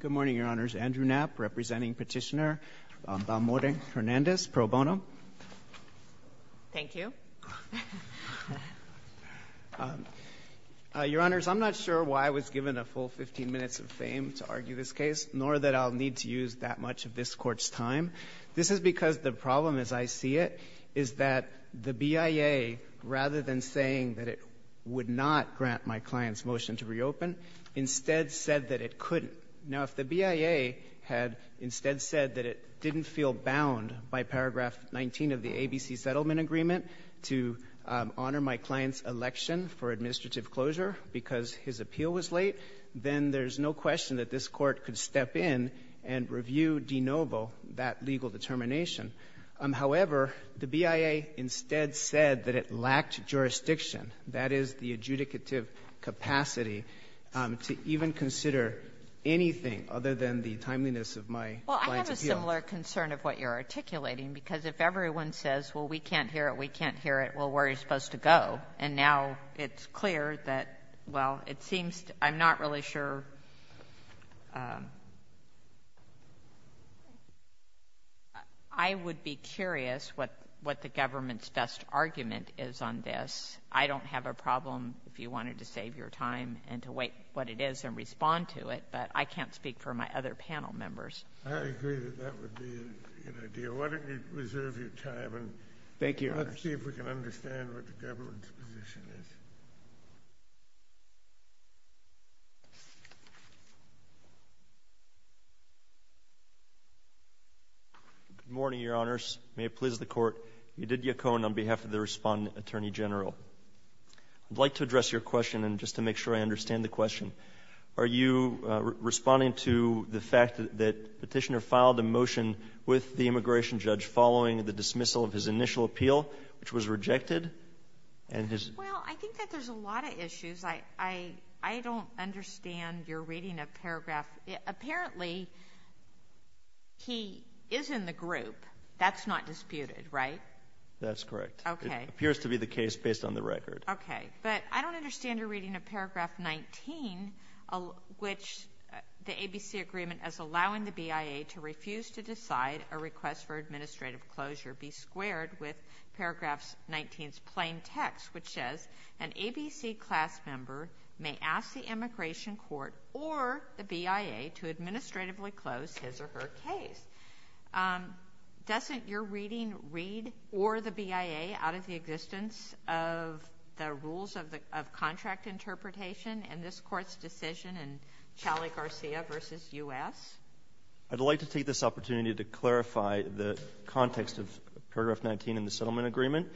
Good morning, Your Honors. Andrew Knapp, representing Petitioner Balmore Hernandez, pro bono. Thank you. Your Honors, I'm not sure why I was given a full 15 minutes of fame to argue this case, nor that I'll need to use that much of this court's time. This is because the problem, as I see it, is that the BIA, rather than saying that it would not grant my client's motion to reopen, instead said that it couldn't. Now, if the BIA had instead said that it didn't feel bound by paragraph 19 of the ABC Settlement Agreement to honor my client's election for administrative closure because his appeal was late, then there's no question that this court could step in and review de novo that jurisdiction, that is, the adjudicative capacity to even consider anything other than the timeliness of my client's appeal. Well, I have a similar concern of what you're articulating, because if everyone says, well, we can't hear it, we can't hear it, well, where are you supposed to go? And now it's clear that, well, it seems I'm not really sure. I would be curious what the government's best argument is on this. I don't have a problem if you wanted to save your time and to weigh what it is and respond to it, but I can't speak for my other panel members. I agree that that would be a good idea. Why don't you reserve your time and let's see if we can understand what the government's position is. Good morning, Your Honors. May it please the Court. Edith Yacone on behalf of the Respondent Attorney General. I'd like to address your question, and just to make sure I understand the question. Are you responding to the fact that Petitioner filed a motion with the immigration judge following the dismissal of his initial appeal, which was rejected? Well, I think that there's a lot of issues. I don't understand your reading of Paragraph 19. Apparently, he is in the group. That's not disputed, right? That's correct. Okay. It appears to be the case based on the record. Okay. But I don't understand your reading of Paragraph 19, which the ABC agreement is allowing the BIA to refuse to decide a request for administrative closure be squared with Paragraph 19's plain text, which says, an ABC class member may ask the immigration court or the BIA to administratively close his or her case. Doesn't your reading read or the BIA out of the existence of the rules of contract interpretation in this Court's decision in Chalet-Garcia v. U.S.? I'd like to take this opportunity to clarify the context of Paragraph 19 in the settlement agreement.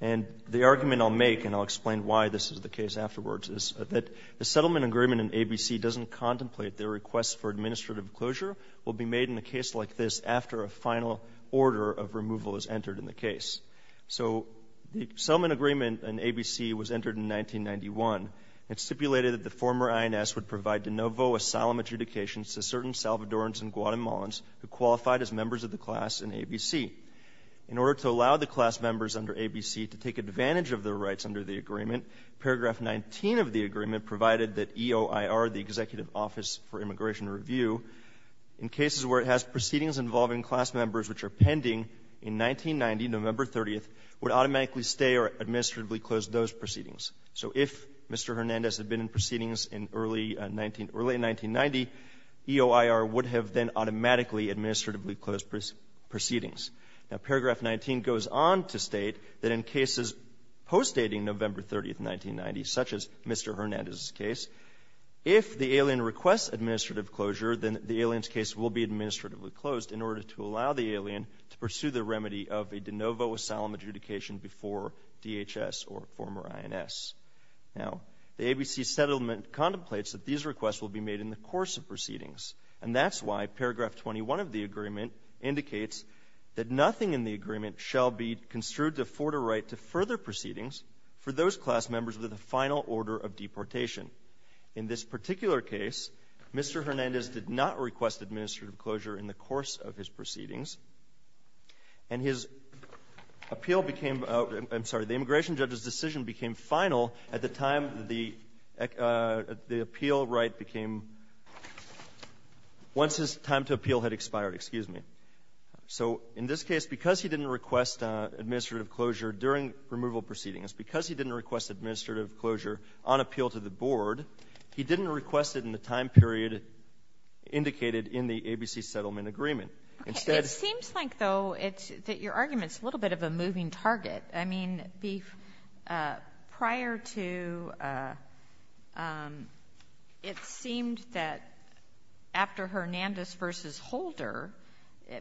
And the argument I'll make, and I'll explain why this is the case afterwards, is that the settlement agreement in ABC doesn't contemplate their request for administrative closure will be made in a case like this after a final order of removal is entered in the case. So the settlement agreement in ABC was entered in 1991. It stipulated that the former INS would provide de novo asylum adjudications to certain Salvadorans and Guatemalans who take advantage of their rights under the agreement. Paragraph 19 of the agreement provided that EOIR, the Executive Office for Immigration Review, in cases where it has proceedings involving class members which are pending, in 1990, November 30th, would automatically stay or administratively close those proceedings. So if Mr. Hernandez had been in proceedings in early 1990, EOIR would have then automatically administratively closed proceedings. Now, Paragraph 19 goes on to state that in cases postdating November 30th, 1990, such as Mr. Hernandez's case, if the alien requests administrative closure, then the alien's case will be administratively closed in order to allow the alien to pursue the remedy of a de novo asylum adjudication before DHS or former INS. Now, the ABC settlement contemplates that these requests will be made in the course of proceedings, and that's why Paragraph 21 of the agreement indicates that nothing in the agreement shall be construed to afford a right to further proceedings for those class members with a final order of deportation. In this particular case, Mr. Hernandez did not request administrative closure in the course of his proceedings, and his appeal became — I'm sorry, the immigration judge's decision became final at the time the appeal right became — once his time to appeal had expired, excuse me. So in this case, because he didn't request administrative closure during removal proceedings, because he didn't request administrative closure on appeal to the board, he didn't request it in the time period indicated in the ABC settlement agreement. Instead — It seems like, though, that your argument's a little bit of a moving target. I mean, prior to — it seemed that after Hernandez v. Holder,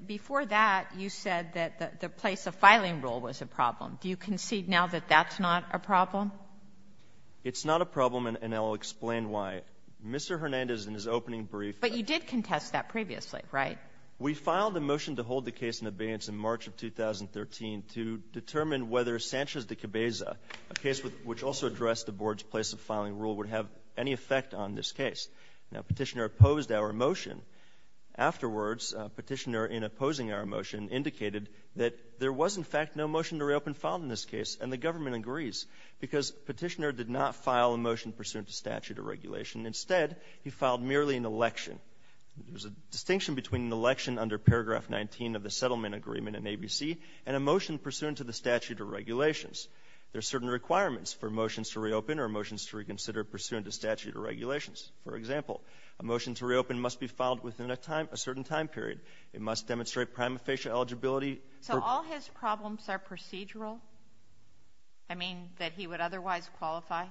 before that, you said that the place of filing rule was a problem. Do you concede now that that's not a problem? It's not a problem, and I'll explain why. Mr. Hernandez, in his opening brief — But you did contest that previously, right? We filed a motion to hold the case in abeyance in March of 2013 to determine whether Sanchez v. Cabeza, a case which also addressed the board's place of filing rule, would have any effect on this case. Now, Petitioner opposed our motion. Afterwards, Petitioner, in opposing our motion, indicated that there was, in fact, no motion to reopen filed in this case, and the government agrees, because Petitioner did not file a motion pursuant to statute or regulation. Instead, he filed merely an election. There's a distinction between an election under paragraph 19 of the settlement agreement in ABC and a motion pursuant to statute or regulations. There are certain requirements for motions to reopen or motions to reconsider pursuant to statute or regulations. For example, a motion to reopen must be filed within a certain time period. It must demonstrate prima facie eligibility — So all his problems are procedural? I mean, that he would otherwise qualify?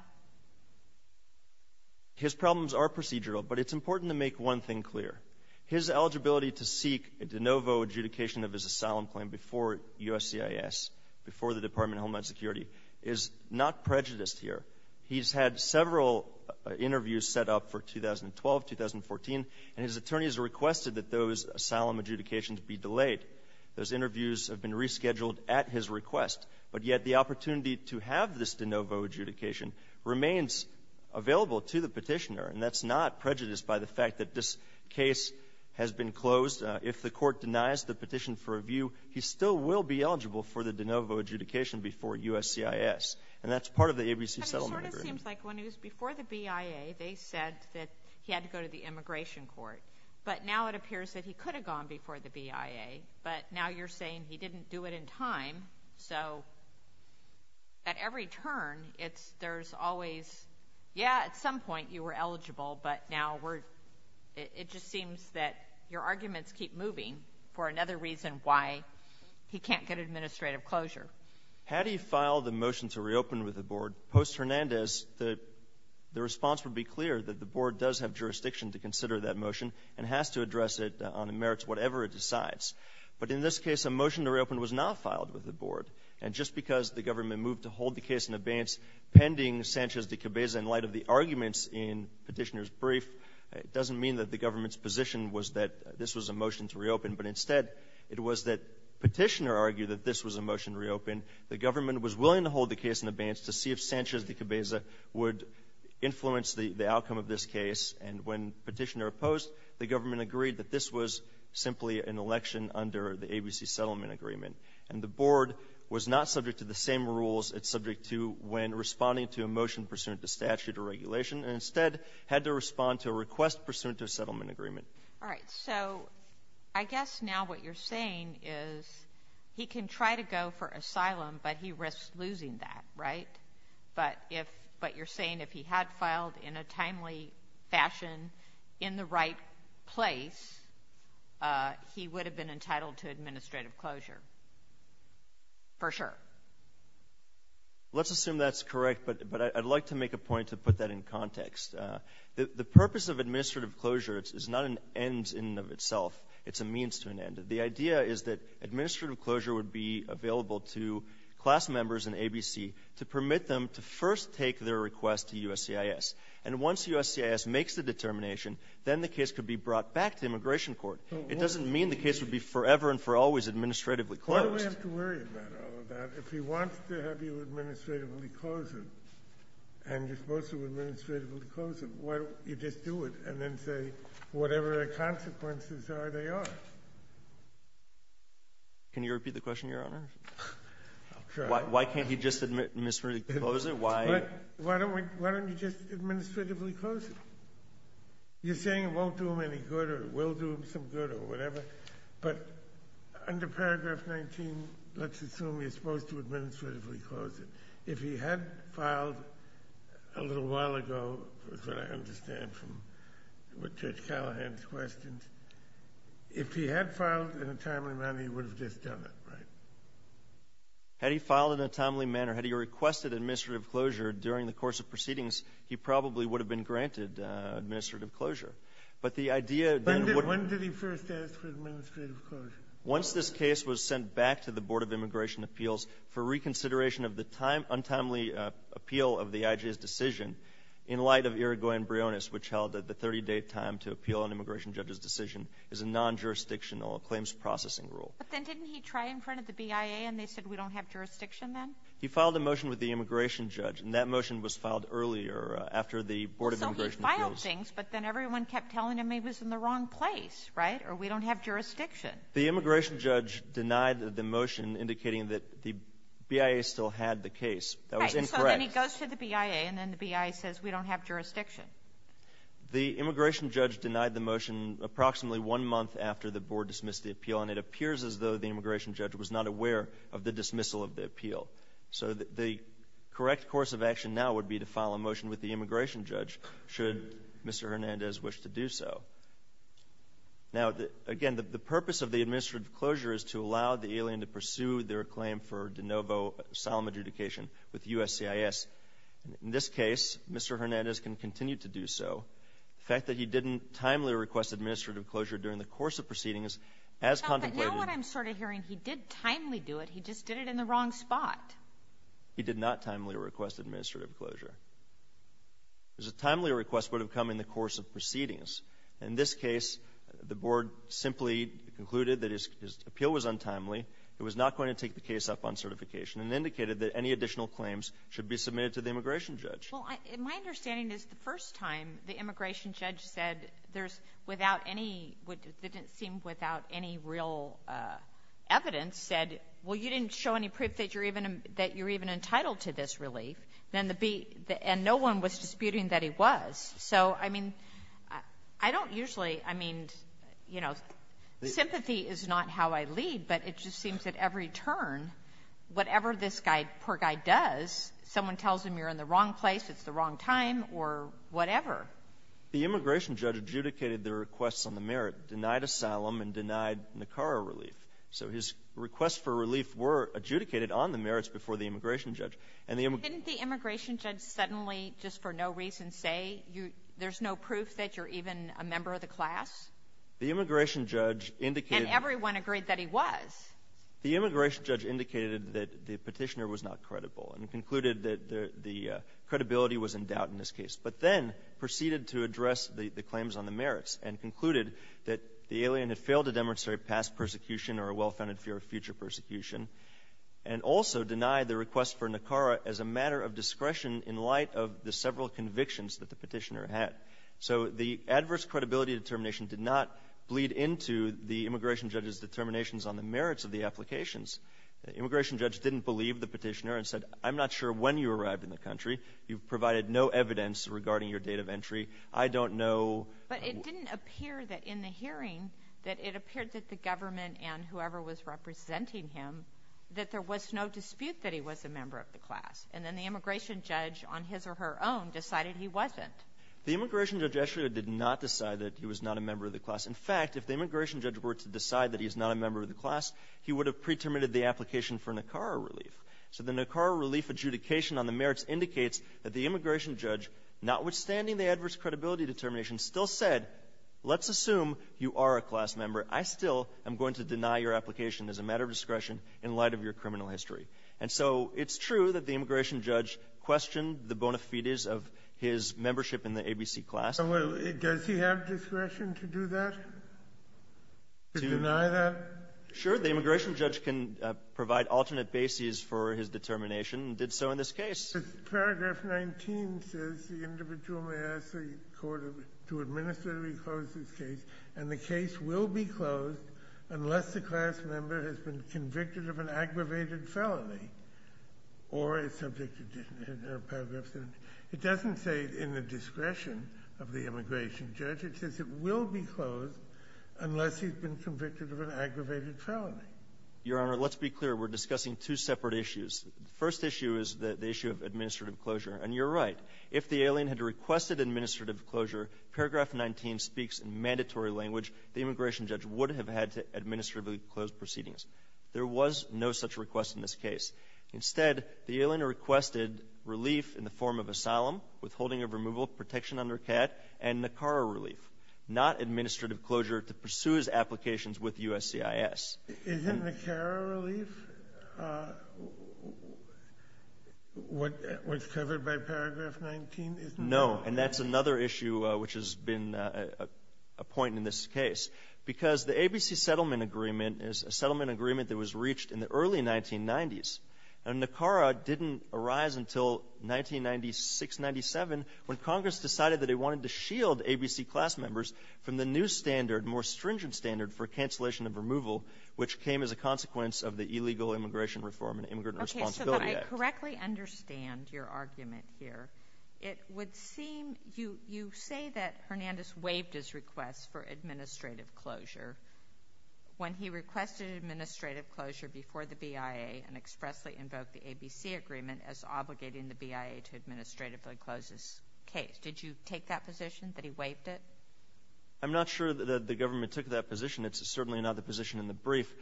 His problems are procedural, but it's important to make one thing clear. His eligibility to seek a de novo adjudication of his asylum claim before USCIS, before the Department of Homeland Security, is not prejudiced here. He's had several interviews set up for 2012, 2014, and his attorneys requested that those asylum adjudications be delayed. Those interviews have been rescheduled at his request, but yet the opportunity to have this de novo adjudication remains available to the Petitioner, and that's not prejudiced by the fact that this case has been closed. If the court denies the petition for review, he still will be eligible for the de novo adjudication before USCIS, and that's part of the ABC settlement agreement. But it sort of seems like when he was before the BIA, they said that he had to go to the immigration court, but now it appears that he could have gone before the BIA, but now you're saying he didn't do it in time, so at every turn, there's always, yeah, at some points, that your arguments keep moving for another reason why he can't get administrative closure. Had he filed a motion to reopen with the Board, post-Hernandez, the response would be clear that the Board does have jurisdiction to consider that motion and has to address it on the merits whatever it decides. But in this case, a motion to reopen was not filed with the Board, and just because the government moved to hold the case in abeyance pending Sanchez de Cabeza in light of the arguments in Petitioner's brief, it doesn't mean that the government's position was that this was a motion to reopen, but instead, it was that Petitioner argued that this was a motion to reopen, the government was willing to hold the case in abeyance to see if Sanchez de Cabeza would influence the outcome of this case, and when Petitioner opposed, the government agreed that this was simply an election under the ABC settlement agreement. And the Board was not subject to the same rules it's subject to when responding to a motion pursuant to statute or regulation, and instead had to respond to a request pursuant to a settlement agreement. All right. So I guess now what you're saying is he can try to go for asylum, but he risks losing that, right? But if, but you're saying if he had filed in a timely fashion in the right place, he would have been entitled to administrative closure, for sure? Let's assume that's correct, but I'd like to make a point to put that in context. The purpose of administrative closure is not an end in and of itself. It's a means to an end. The idea is that administrative closure would be available to class members in ABC to permit them to first take their request to USCIS. And once USCIS makes the determination, then the case could be brought back to immigration court. It doesn't mean the case would be forever and for always administratively closed. Why do we have to worry about all of that? If he wants to have you administratively close it and you're supposed to administratively close it, why don't you just do it and then say whatever the consequences are, they are? Can you repeat the question, Your Honor? Why can't he just administratively close it? Why? Why don't we, why don't you just administratively close it? You're saying it won't do him any good or it will do him some good or whatever, but under paragraph 19, let's assume you're If he had filed a little while ago, is what I understand from what Judge Callahan's questioned, if he had filed in a timely manner, he would have just done it, right? Had he filed in a timely manner, had he requested administrative closure during the course of proceedings, he probably would have been granted administrative closure. But the idea When did he first ask for administrative closure? Once this case was sent back to the Board of Immigration Appeals for reconsideration of the untimely appeal of the IJ's decision in light of Irigoyen-Breonis, which held that the 30-day time to appeal an immigration judge's decision is a non-jurisdictional claims processing rule. But then didn't he try in front of the BIA and they said we don't have jurisdiction then? He filed a motion with the immigration judge and that motion was filed earlier after the Board of Immigration Appeals. So he filed things, but then everyone kept telling him he was in the wrong place, right? Or we don't have jurisdiction. The immigration judge denied the motion indicating that the BIA still had the case. Right. That was incorrect. So then he goes to the BIA and then the BIA says we don't have jurisdiction. The immigration judge denied the motion approximately one month after the Board dismissed the appeal and it appears as though the immigration judge was not aware of the dismissal of the appeal. So the correct course of action now would be to file a motion with the immigration judge should Mr. Hernandez wish to do so. Now, again, the purpose of the administrative closure is to allow the alien to pursue their claim for de novo solemn adjudication with USCIS. In this case, Mr. Hernandez can continue to do so. The fact that he didn't timely request administrative closure during the course of proceedings as contemplated. But now what I'm sort of hearing, he did timely do it, he just did it in the wrong spot. He did not timely request administrative closure. There's a timely request would have come in the course of proceedings. In this case, the Board simply concluded that his appeal was untimely, it was not going to take the case up on certification and indicated that any additional claims should be submitted to the immigration judge. Well, my understanding is the first time the immigration judge said there's without any what didn't seem without any real evidence said, well, you didn't show any proof that you're even entitled to this relief. And no one was disputing that he was. So I mean, I don't usually, I mean, you know, sympathy is not how I lead, but it just seems that every turn, whatever this poor guy does, someone tells him you're in the wrong place, it's the wrong time, or whatever. The immigration judge adjudicated the requests on the merit, denied asylum, and denied NACARA relief. So his requests for relief were adjudicated on the merits before the immigration judge. And the immigration... Didn't the immigration judge suddenly, just for no reason, say there's no proof that you're even a member of the class? The immigration judge indicated... And everyone agreed that he was. The immigration judge indicated that the petitioner was not credible and concluded that the credibility was in doubt in this case, but then proceeded to address the claims on the merits and concluded that the alien had failed to demonstrate past persecution or a well-founded fear of future persecution, and also denied the request for NACARA as a matter of discretion in light of the several convictions that the petitioner had. So the adverse credibility determination did not bleed into the immigration judge's determinations on the merits of the applications. The immigration judge didn't believe the petitioner and said, I'm not sure when you arrived in the country. You provided no evidence regarding your date of entry. I don't know... But it didn't appear that in the hearing, that it appeared that the government and whoever was representing him, that there was no dispute that he was a member of the class. And then the immigration judge, on his or her own, decided he wasn't. The immigration judge actually did not decide that he was not a member of the class. In fact, if the immigration judge were to decide that he is not a member of the class, he would have pre-terminated the application for NACARA relief. So the NACARA relief adjudication on the merits indicates that the immigration judge, notwithstanding the adverse credibility determination, still said, let's assume you are a class member. I still am going to deny your application as a matter of discretion in light of your criminal history. And so it's true that the immigration judge questioned the bona fides of his membership in the ABC class. And does he have discretion to do that, to deny that? Sure. The immigration judge can provide alternate bases for his determination and did so in this case. Paragraph 19 says, the individual may ask the court to administratively close this case. And the case will be closed unless the class member has been convicted of an aggravated felony or is subjected to paragraph 17. It doesn't say in the discretion of the immigration judge. It says it will be closed unless he's been convicted of an aggravated felony. Your Honor, let's be clear. We're discussing two separate issues. First issue is the issue of administrative closure. And you're right. If the alien had requested administrative closure, paragraph 19 speaks in mandatory language. The immigration judge would have had to administratively close proceedings. There was no such request in this case. Instead, the alien requested relief in the form of asylum, withholding of removal, protection under CAT, and NACARA relief, not administrative closure to pursue his applications with USCIS. Isn't NACARA relief what's covered by paragraph 19? No. And that's another issue which has been a point in this case. Because the ABC settlement agreement is a settlement agreement that was reached in the early 1990s. And NACARA didn't arise until 1996-97 when Congress decided that it wanted to shield which came as a consequence of the Illegal Immigration Reform and Immigrant Responsibility Act. Okay. So that I correctly understand your argument here. It would seem you say that Hernandez waived his request for administrative closure when he requested administrative closure before the BIA and expressly invoked the ABC agreement as obligating the BIA to administratively close this case. Did you take that position that he waived it? I'm not sure that the government took that position. It's certainly not the position in the brief.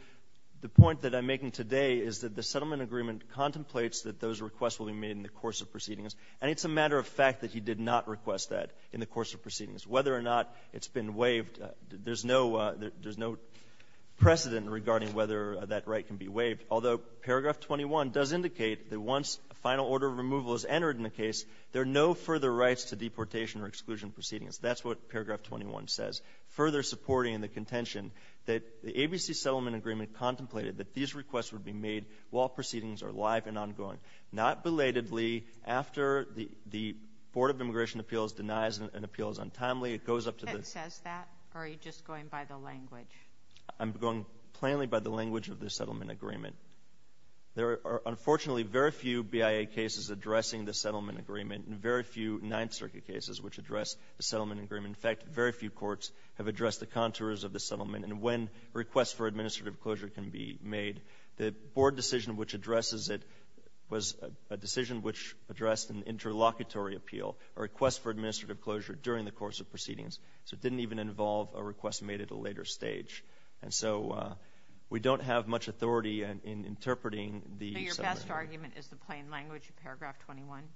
The point that I'm making today is that the settlement agreement contemplates that those requests will be made in the course of proceedings. And it's a matter of fact that he did not request that in the course of proceedings. Whether or not it's been waived, there's no precedent regarding whether that right can be waived. Although paragraph 21 does indicate that once a final order of removal is entered in a case, there are no further rights to deportation or exclusion proceedings. That's what paragraph 21 says. Further supporting the contention that the ABC settlement agreement contemplated that these requests would be made while proceedings are live and ongoing. Not belatedly, after the Board of Immigration Appeals denies an appeal as untimely, it goes up to the- It says that? Or are you just going by the language? I'm going plainly by the language of the settlement agreement. There are unfortunately very few BIA cases addressing the settlement agreement and very few Ninth Circuit cases which address the settlement agreement. In fact, very few courts have addressed the contours of the settlement and when requests for administrative closure can be made. The board decision which addresses it was a decision which addressed an interlocutory appeal, a request for administrative closure during the course of proceedings. So it didn't even involve a request made at a later stage. And so we don't have much authority in interpreting the- So your best argument is the plain language of paragraph 21?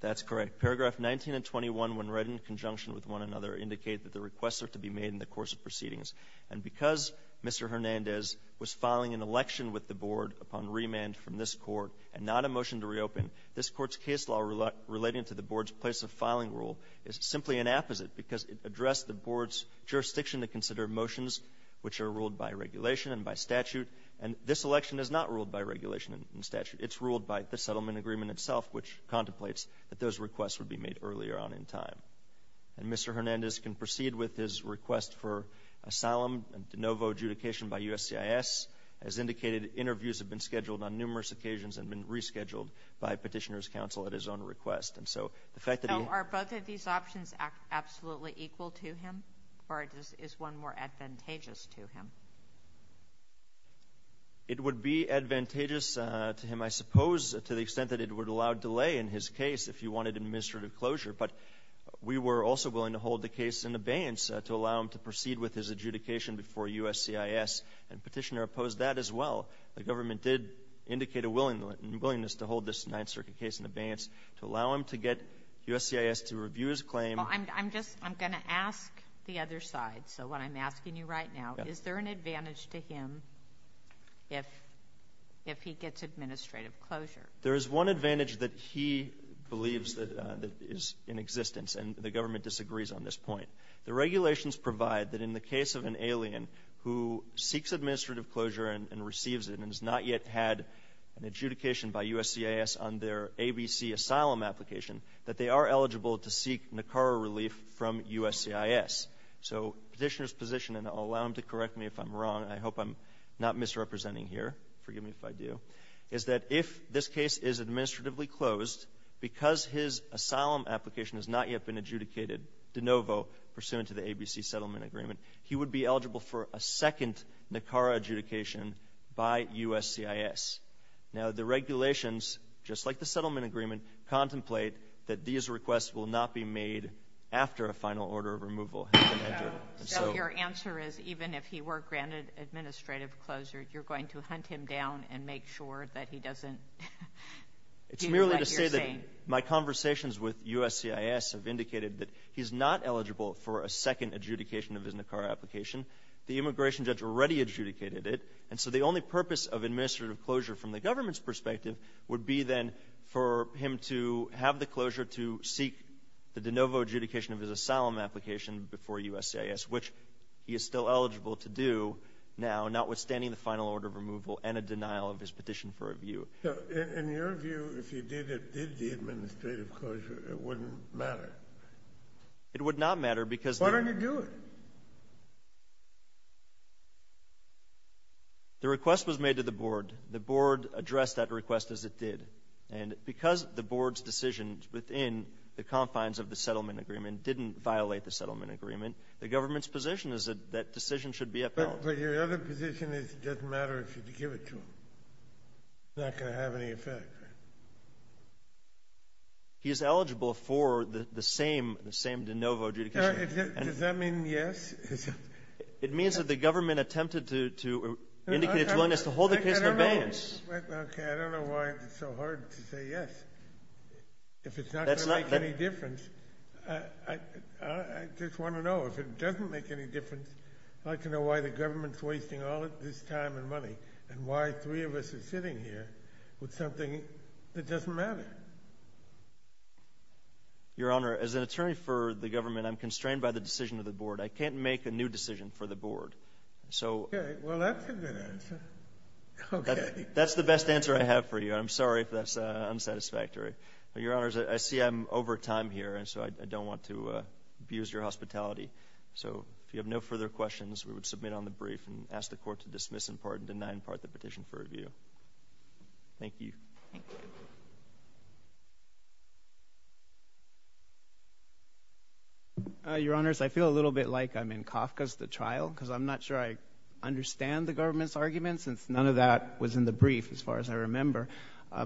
That's correct. That paragraph 19 and 21 when read in conjunction with one another indicate that the requests are to be made in the course of proceedings. And because Mr. Hernandez was filing an election with the board upon remand from this court and not a motion to reopen, this court's case law relating to the board's place of filing rule is simply an apposite because it addressed the board's jurisdiction to consider motions which are ruled by regulation and by statute. And this election is not ruled by regulation and statute. It's ruled by the settlement agreement itself which contemplates that those requests would be made earlier on in time. And Mr. Hernandez can proceed with his request for asylum and de novo adjudication by USCIS. As indicated, interviews have been scheduled on numerous occasions and been rescheduled by petitioner's counsel at his own request. And so the fact that he- So are both of these options absolutely equal to him or is one more advantageous to him? It would be advantageous to him, I suppose, to the extent that it would allow delay in his case if you wanted administrative closure. But we were also willing to hold the case in abeyance to allow him to proceed with his adjudication before USCIS and petitioner opposed that as well. The government did indicate a willingness to hold this Ninth Circuit case in abeyance to allow him to get USCIS to review his claim. Well, I'm just- I'm going to ask the other side. So what I'm asking you right now, is there an advantage to him if he gets administrative closure? There is one advantage that he believes that is in existence and the government disagrees on this point. The regulations provide that in the case of an alien who seeks administrative closure and receives it and has not yet had an adjudication by USCIS on their ABC asylum application, that they are eligible to seek NACARA relief from USCIS. So petitioner's position, and I'll allow him to correct me if I'm wrong, I hope I'm not misrepresenting here, forgive me if I do, is that if this case is administratively closed, because his asylum application has not yet been adjudicated de novo pursuant to the ABC settlement agreement, he would be eligible for a second NACARA adjudication by USCIS. Now the regulations, just like the settlement agreement, contemplate that these requests will not be made after a final order of removal has been entered. So your answer is even if he were granted administrative closure, you're going to hunt him down and make sure that he doesn't do what you're saying? It's merely to say that my conversations with USCIS have indicated that he's not eligible for a second adjudication of his NACARA application. The immigration judge already adjudicated it, and so the only purpose of administrative closure from the government's perspective would be then for him to have the closure to seek the de novo adjudication of his asylum application before USCIS, which he is still eligible to do now, notwithstanding the final order of removal and a denial of his petition for review. So in your view, if he did it, did the administrative closure, it wouldn't matter? It would not matter because— Why don't you do it? The request was made to the board. The board addressed that request as it did. And because the board's decisions within the confines of the settlement agreement didn't violate the settlement agreement, the government's position is that that decision should be upheld. But your other position is it doesn't matter if you give it to him. It's not going to have any effect. He is eligible for the same de novo adjudication. Does that mean yes? It means that the government attempted to indicate its willingness to hold the case in abeyance. Okay. I don't know why it's so hard to say yes. If it's not going to make any difference, I just want to know if it doesn't make any difference, I'd like to know why the government's wasting all of this time and money and why three of us are sitting here with something that doesn't matter. Your Honor, as an attorney for the government, I'm constrained by the decision of the board. I can't make a new decision for the board. So— Okay. Well, that's a good answer. Okay. That's the best answer I have for you. I'm sorry if that's unsatisfactory. But, Your Honors, I see I'm over time here, and so I don't want to abuse your hospitality. So if you have no further questions, we would submit on the brief and ask the court to dismiss in part and deny in part the petition for review. Thank you. Your Honors, I feel a little bit like I'm in Kafka's The Trial because I'm not sure I understand the government's argument, since none of that was in the brief, as far as I remember.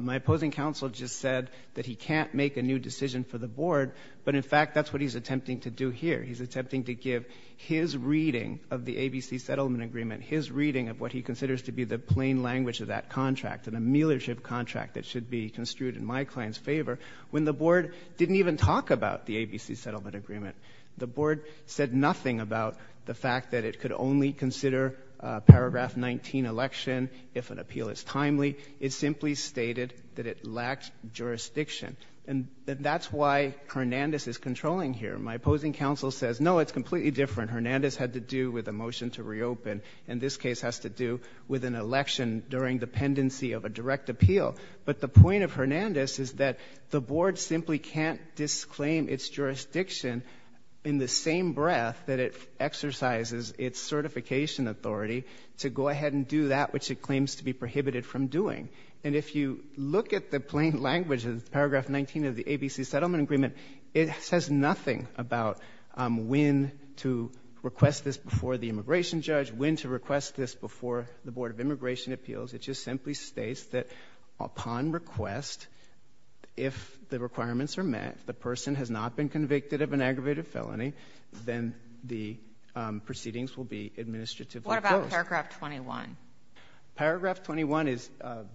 My opposing counsel just said that he can't make a new decision for the board, but in fact that's what he's attempting to do here. He's attempting to give his reading of the ABC settlement agreement, his reading of what he considers to be the plain language of that contract, an ameliorative contract that should be construed in my client's favor, when the board didn't even talk about the ABC settlement agreement. The board said nothing about the fact that it could only consider a paragraph 19 election if an appeal is timely. It simply stated that it lacked jurisdiction, and that's why Hernandez is controlling here. My opposing counsel says, no, it's completely different. Hernandez had to do with a motion to reopen, and this case has to do with an election during the pendency of a direct appeal. But the point of Hernandez is that the board simply can't disclaim its jurisdiction in the same breath that it exercises its certification authority to go ahead and do that which it claims to be prohibited from doing. And if you look at the plain language of paragraph 19 of the ABC settlement agreement, it says nothing about when to request this before the immigration judge, when to request this before the board of immigration appeals. It just simply states that upon request, if the requirements are met, the person has not been convicted of an aggravated felony, then the proceedings will be administratively closed. What about paragraph 21? Paragraph 21 is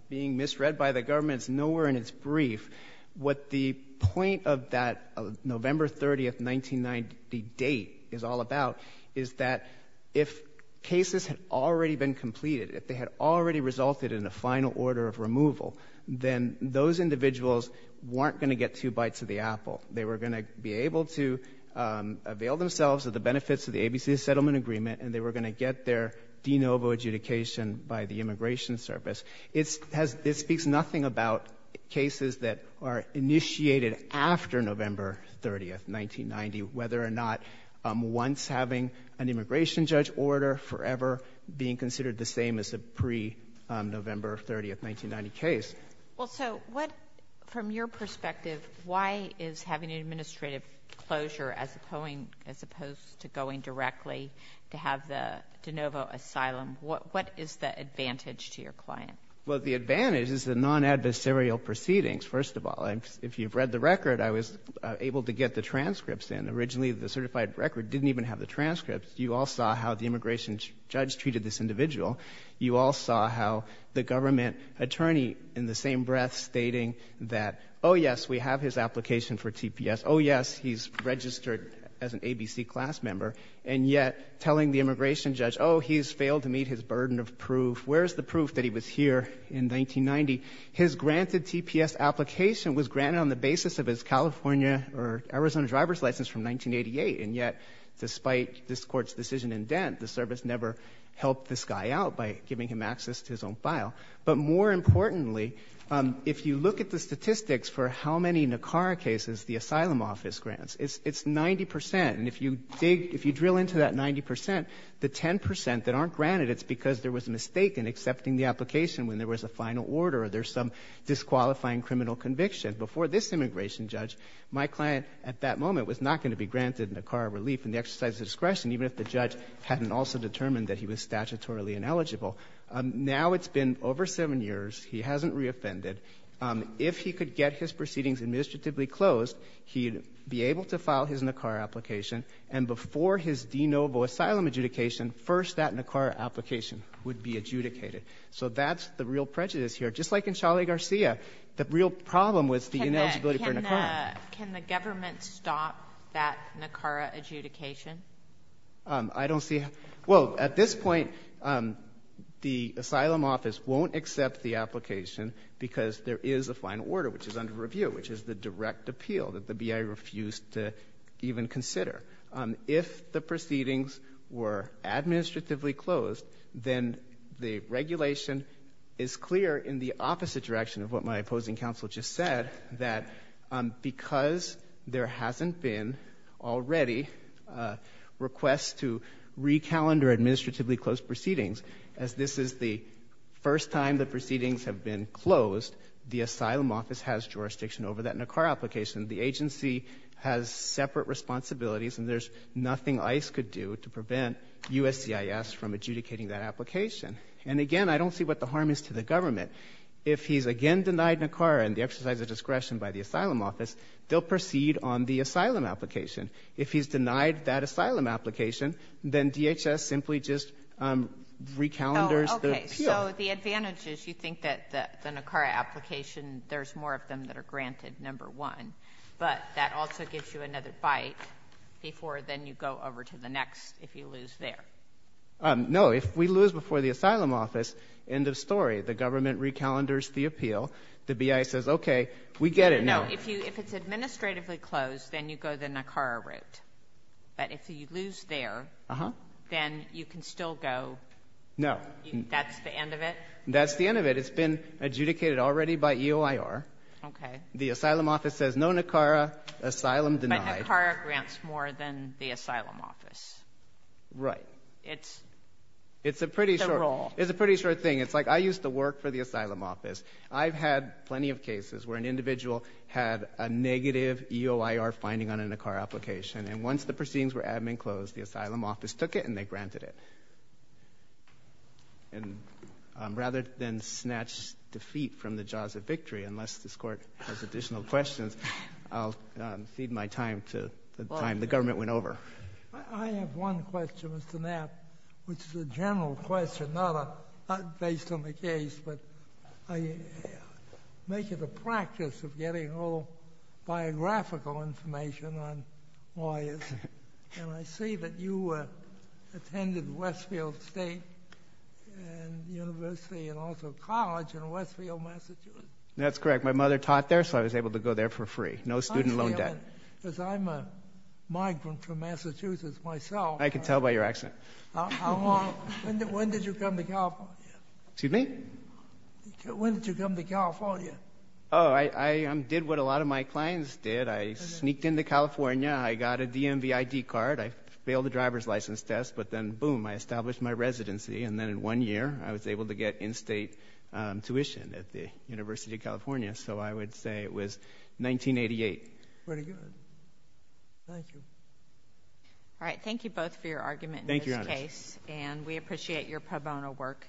being misread by the government. It's nowhere in its brief. What the point of that November 30th, 1990 date is all about is that if cases had already been completed, if they had already resulted in a final order of removal, then those individuals weren't going to get two bites of the apple. They were going to be able to avail themselves of the benefits of the ABC settlement agreement, and they were going to get their de novo adjudication by the immigration service. This speaks nothing about cases that are initiated after November 30th, 1990, whether or not once having an immigration judge order, forever being considered the same as a pre-November 30th, 1990 case. Well, so what, from your perspective, why is having an administrative closure as opposed to going directly to have the de novo asylum, what is the advantage to your client? Well, the advantage is the non-adversarial proceedings, first of all. If you've read the record, I was able to get the transcripts in. Originally, the certified record didn't even have the transcripts. You all saw how the immigration judge treated this individual. You all saw how the government attorney, in the same breath, stating that, oh, yes, we have his application for TPS, oh, yes, he's registered as an ABC class member, and yet telling the immigration judge, oh, he's failed to meet his burden of proof, where's the proof that he was here in 1990? His granted TPS application was granted on the basis of his California or Arizona driver's license in 1988, and yet, despite this court's decision in Dent, the service never helped this guy out by giving him access to his own file. But more importantly, if you look at the statistics for how many NACARA cases the asylum office grants, it's 90%, and if you dig, if you drill into that 90%, the 10% that aren't granted, it's because there was a mistake in accepting the application when there was a final order or there's some disqualifying criminal conviction. Before this immigration judge, my client, at that moment, was not going to be granted NACARA relief in the exercise of discretion, even if the judge hadn't also determined that he was statutorily ineligible. Now it's been over seven years, he hasn't reoffended. If he could get his proceedings administratively closed, he'd be able to file his NACARA application, and before his de novo asylum adjudication, first that NACARA application would be adjudicated. So that's the real prejudice here. Just like in Charlie Garcia, the real problem was the ineligibility for NACARA. Can the government stop that NACARA adjudication? I don't see... Well, at this point, the asylum office won't accept the application because there is a final order, which is under review, which is the direct appeal that the BIA refused to even consider. If the proceedings were administratively closed, then the regulation is clear in the opposite direction of what my opposing counsel just said, that because there hasn't been already requests to recalendar administratively closed proceedings, as this is the first time the proceedings have been closed, the asylum office has jurisdiction over that NACARA application. The agency has separate responsibilities, and there's nothing ICE could do to prevent USCIS from adjudicating that application. And again, I don't see what the harm is to the government. If he's again denied NACARA and the exercise of discretion by the asylum office, they'll proceed on the asylum application. If he's denied that asylum application, then DHS simply just recalendars the appeal. Oh, okay. So the advantage is you think that the NACARA application, there's more of them that are But that also gives you another bite before then you go over to the next, if you lose there. No. If we lose before the asylum office, end of story. The government recalendars the appeal. The BIA says, okay, we get it now. If you, if it's administratively closed, then you go the NACARA route. But if you lose there, then you can still go. No. That's the end of it? That's the end of it. It's been adjudicated already by EOIR. Okay. The asylum office says no NACARA, asylum denied. But NACARA grants more than the asylum office. Right. It's the role. It's a pretty short, it's a pretty short thing. It's like I used to work for the asylum office. I've had plenty of cases where an individual had a negative EOIR finding on a NACARA application. And once the proceedings were admin closed, the asylum office took it and they granted it. And rather than snatch defeat from the jaws of victory, unless this court has additional questions, I'll feed my time to the time the government went over. I have one question, Mr. Knapp, which is a general question, not based on the case, but I make it a practice of getting all biographical information on lawyers. And I see that you attended Westfield State University and also college in Westfield, Massachusetts. That's correct. My mother taught there, so I was able to go there for free. No student loan debt. Because I'm a migrant from Massachusetts myself. I can tell by your accent. When did you come to California? Excuse me? When did you come to California? Oh, I did what a lot of my clients did. I sneaked into California. I got a DMV ID card, I failed the driver's license test, but then, boom, I established my residency. And then in one year, I was able to get in-state tuition at the University of California. So I would say it was 1988. Very good. Thank you. Thank you both for your argument in this case. Thank you, Your Honor. And we appreciate your pro bono work.